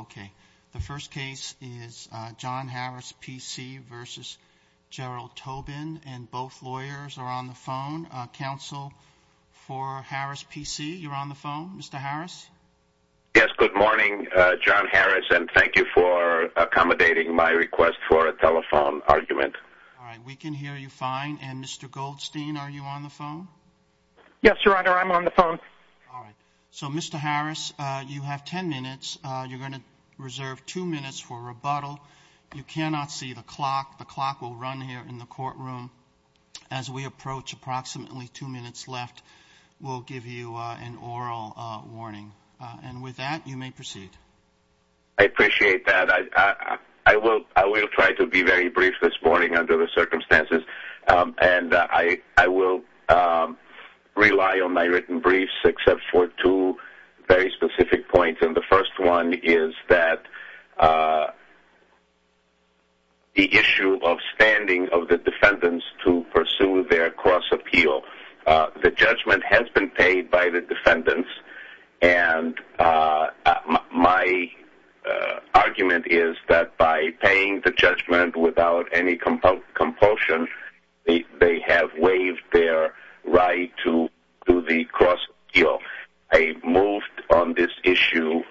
Okay, the first case is John Harris P.C. v. Gerald Tobin, and both lawyers are on the phone. Counsel for Harris P.C., you're on the phone, Mr. Harris? Yes, good morning, John Harris, and thank you for accommodating my request for a telephone argument. All right, we can hear you fine. And Mr. Goldstein, are you on the phone? Yes, Your Honor, I'm on the phone. All right. So, Mr. Harris, you have ten minutes. You're going to reserve two minutes for rebuttal. You cannot see the clock. The clock will run here in the courtroom. As we approach approximately two minutes left, we'll give you an oral warning. And with that, you may proceed. I appreciate that. I will try to be very brief this morning under the circumstances, and I will rely on my written briefs except for two very specific points, and the first one is that the issue of standing of the defendants to pursue their cross-appeal, the judgment has been paid by the defendants, and my argument is that by paying the judgment without any compulsion, they have waived their right to the cross-appeal. I moved on this issue in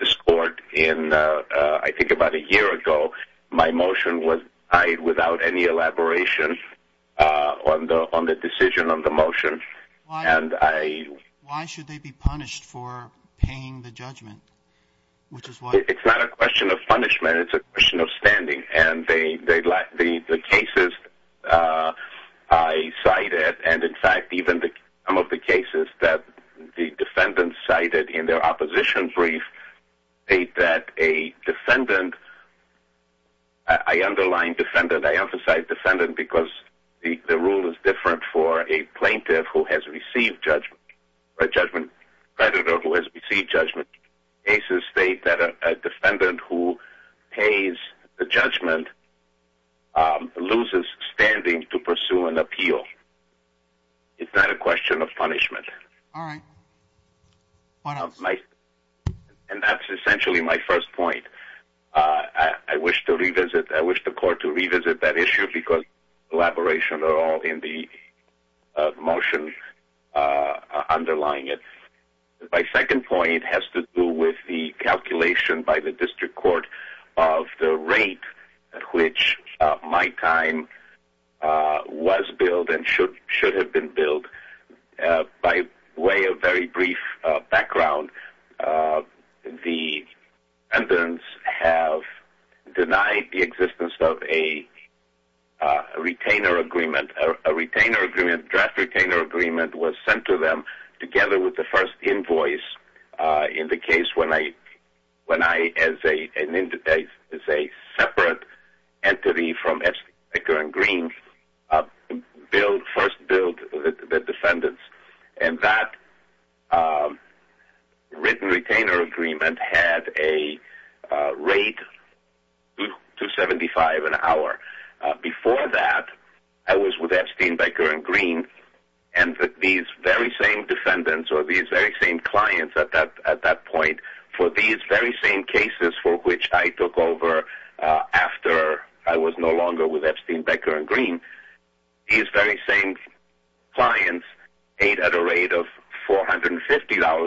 this court in, I think, about a year ago. My motion was tied without any elaboration on the decision on the motion. And I... Why should they be punished for paying the judgment, which is why... It's not a question of punishment. It's a question of standing. And the cases I cited, and in fact, even some of the cases that the defendants cited in their opposition brief, state that a defendant... I underline defendant. I emphasize defendant because the rule is different for a plaintiff who has received judgment, a judgment creditor who has received judgment cases, state that a defendant who pays the judgment loses standing to pursue an appeal. It's not a question of punishment. All right. One of... My... And that's essentially my first point. I wish to revisit... I wish the court to revisit that issue because elaboration are all in the motion underlying it. My second point has to do with the calculation by the district court of the rate at which my time was billed and should have been billed. By way of very brief background, the defendants have denied the existence of a retainer agreement. A retainer agreement, draft retainer agreement was sent to them together with the first invoice in the case when I, as a separate entity from F.C. Baker and Green, first billed the defendants. And that written retainer agreement had a rate of $275 an hour. Before that, I was with Epstein, Baker, and Green, and these very same defendants or these very same clients at that point for these very same cases for which I took over after I was no longer with Epstein, Baker, and Green, these very same clients paid at a rate of $450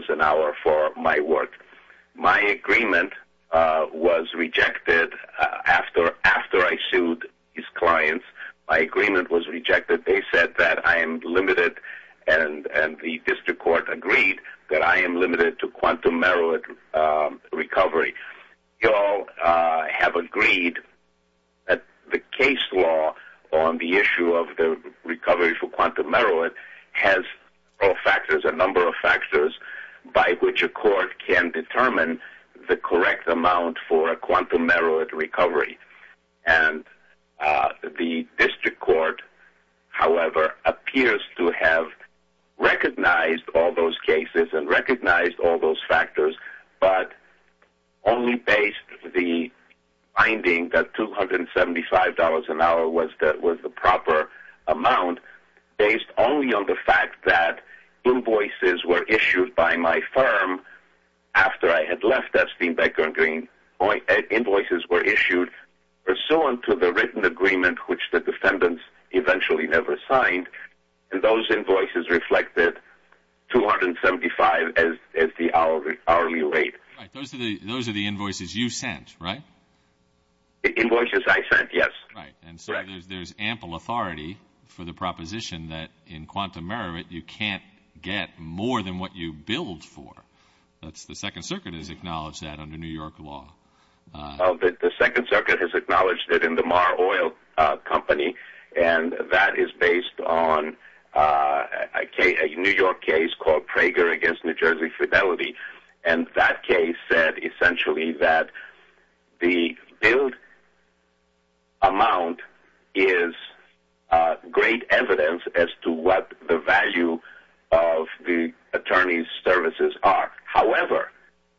an hour for my work. My agreement was rejected after I sued these clients. My agreement was rejected. They said that I am limited and the district court agreed that I am limited to quantum merit recovery. You all have agreed that the case law on the issue of the recovery for quantum merit has all factors, a number of factors by which a court can determine the correct amount for a quantum merit recovery. And the district court, however, appears to have recognized all those cases and recognized all those factors, but only based the finding that $275 an hour was the proper amount based only on the fact that invoices were issued by my firm after I had left Epstein, Baker, and Green, invoices were issued pursuant to the written agreement which the defendants eventually never signed, and those invoices reflected $275 as the hourly rate. Right. Those are the invoices you sent, right? The invoices I sent, yes. Right. And so there's ample authority for the proposition that in quantum merit you can't get more than what you billed for. That's the Second Circuit has acknowledged that under New York law. The Second Circuit has acknowledged that in the Marr Oil Company, and that is based on a New York case called Prager v. New Jersey Fidelity, and that case said essentially that the billed amount is great evidence as to what the value of the attorney's services are. However,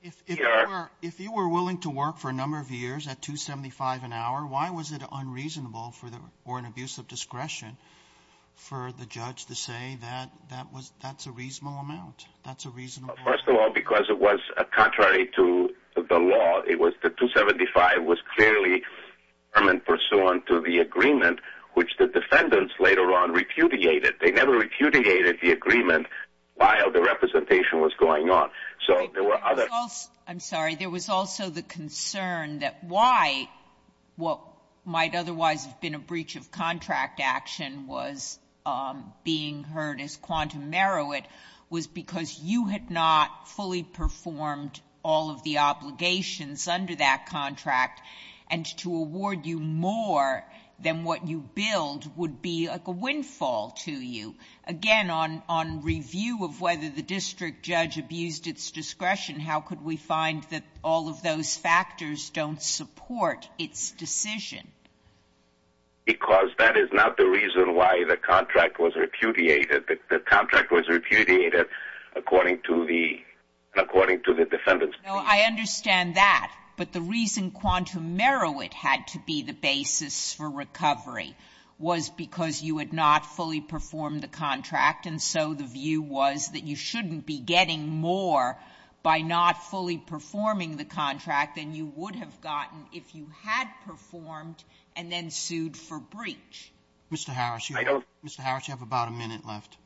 if you were willing to work for a number of years at $275 an hour, why was it unreasonable for an abuse of discretion for the judge to say that that's a reasonable amount? That's a reasonable amount. First of all, because it was contrary to the law. It was that $275 was clearly permanent pursuant to the agreement, which the defendants later on repudiated. They never repudiated the agreement while the representation was going on. So there were other... I'm sorry. There was also the concern that why what might otherwise have been a breach of contract action was being heard as quantum meruit was because you had not fully performed all of the obligations under that contract, and to award you more than what you billed would be like a windfall to you. Again, on review of whether the district judge abused its discretion, how could we find that all of those factors don't support its decision? Because that is not the reason why the contract was repudiated. The contract was repudiated according to the defendants. I understand that, but the reason quantum meruit had to be the basis for recovery was because you had not fully performed the contract, and so the view was that you shouldn't be getting more by not fully performing the contract than you would have gotten if you had performed the contract and then sued for breach. Mr. Harris, you have about a minute left.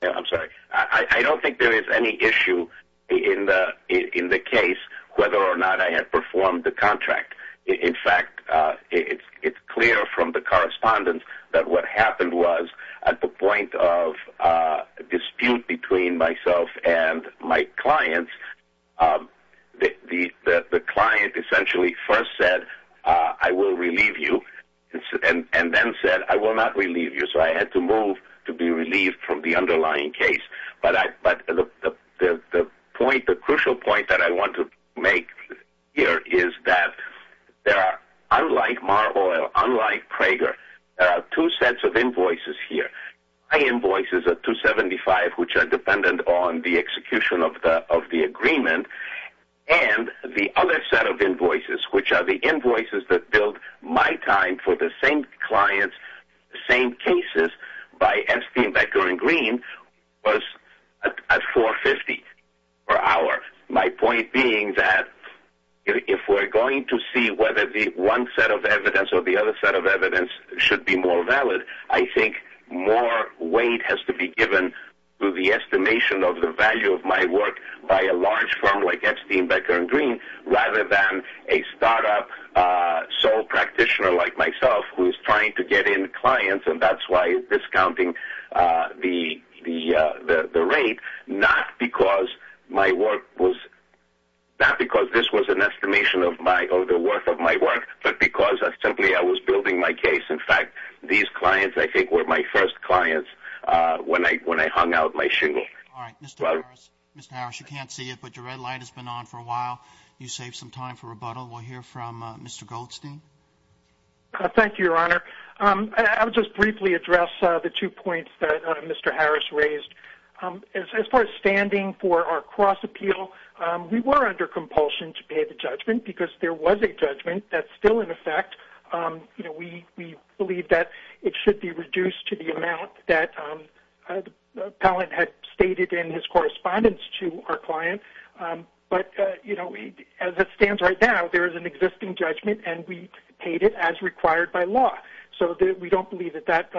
I'm sorry. I don't think there is any issue in the case whether or not I had performed the contract. In fact, it's clear from the correspondence that what happened was at the point of dispute between myself and my clients, the client essentially first said, I will relieve you, and then said, I will not relieve you, so I had to move to be relieved from the underlying case. But the point, the crucial point that I want to make here is that there are, unlike Mar-a-Lago, unlike Prager, there are two sets of invoices here. My invoices are 275, which are dependent on the execution of the agreement, and the other set of invoices, which are the invoices that built my time for the same clients, the same cases by Enstein, Becker, and Green, was at 450 per hour. My point being that if we're going to see whether the one set of evidence or the other set of evidence should be more valid, I think more weight has to be given to the estimation of the value of my work by a large firm like Enstein, Becker, and Green, rather than a startup sole practitioner like myself, who is trying to get in clients, and that's why it's discounting the rate, not because my work was, not because this was an estimation of my, or the worth of my work, but because I simply, I was building my case. In fact, these clients, I think, were my first clients when I hung out my shingle. All right. Mr. Harris, Mr. Harris, you can't see it, but your red light has been on for a while. You saved some time for rebuttal. We'll hear from Mr. Goldstein. Thank you, Your Honor. I'll just briefly address the two points that Mr. Harris raised. As far as standing for our cross-appeal, we were under compulsion to pay the judgment because there was a judgment that's still in effect. We believe that it should be reduced to the amount that the appellant had stated in his correspondence to our client. But as it stands right now, there is an existing judgment, and we paid it as required by law. So we don't believe that that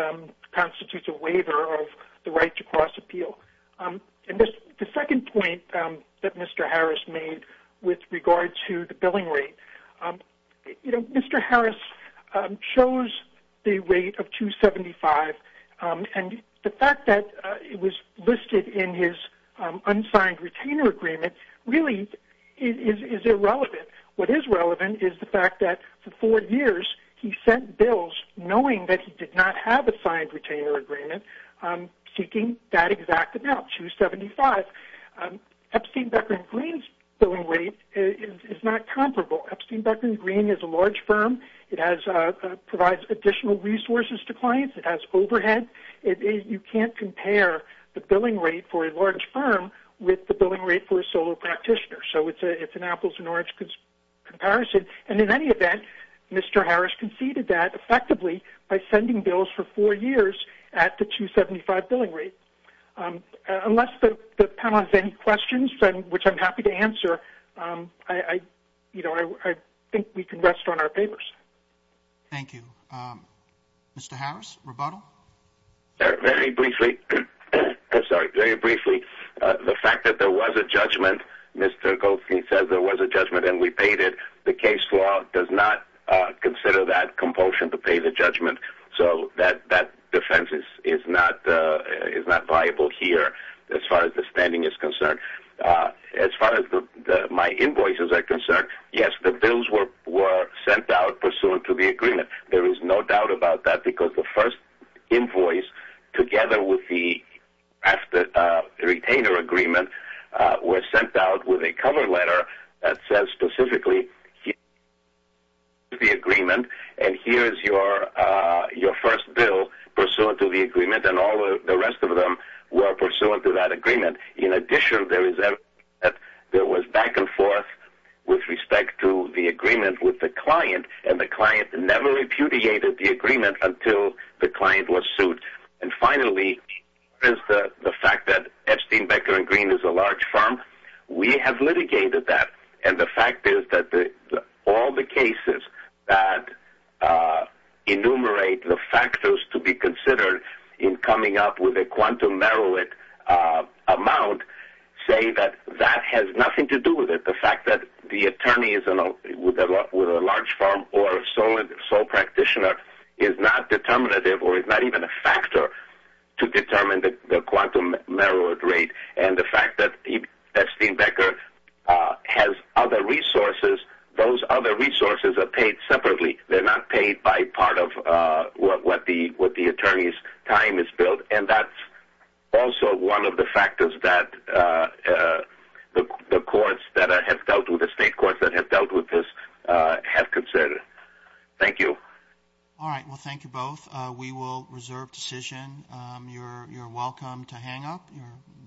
constitutes a waiver of the right to cross-appeal. And the second point that Mr. Harris made with regard to the billing rate, you know, Mr. Harris chose the rate of $275, and the fact that it was listed in his unsigned retainer agreement really is irrelevant. What is relevant is the fact that for four years he sent bills knowing that he did not have a signed retainer agreement seeking that exact amount, $275. Epstein-Beckman Green's billing rate is not comparable. Epstein-Beckman Green is a large firm. It provides additional resources to clients. It has overhead. You can't compare the billing rate for a large firm with the billing rate for a solo practitioner. So it's an apples and oranges comparison. And in any event, Mr. Harris conceded that effectively by sending bills for four years at the $275 billing rate. Unless the panel has any questions, which I'm happy to answer, I think we can rest on our papers. Thank you. Mr. Harris, rebuttal? Very briefly, the fact that there was a judgment, Mr. Goldstein said there was a judgment and we paid it, the case law does not consider that compulsion to pay the judgment. So that defense is not viable here as far as the spending is concerned. As far as my invoices are concerned, yes, the bills were sent out pursuant to the agreement. There is no doubt about that because the first invoice together with the retainer agreement was sent out with a cover letter that says specifically here is the agreement and here is your first bill pursuant to the agreement and all the rest of them were pursuant to that agreement. In addition, there was back and forth with respect to the agreement with the client and the client never repudiated the agreement until the client was sued. And finally, the fact that Epstein, Becker & Green is a large firm, we have litigated that and the fact is that all the cases that enumerate the factors to be considered in coming up with a quantum merit amount say that that has nothing to do with it. The fact that the attorney with a large firm or sole practitioner is not determinative or is not even a factor to determine the quantum merit rate and the fact that Epstein, Becker has other resources, those other resources are paid separately. They're not paid by part of what the attorney's time is billed and that's also one of the factors that the courts that have dealt with this have considered. Thank you. All right, well thank you both. We will reserve decision. You're welcome to hang up.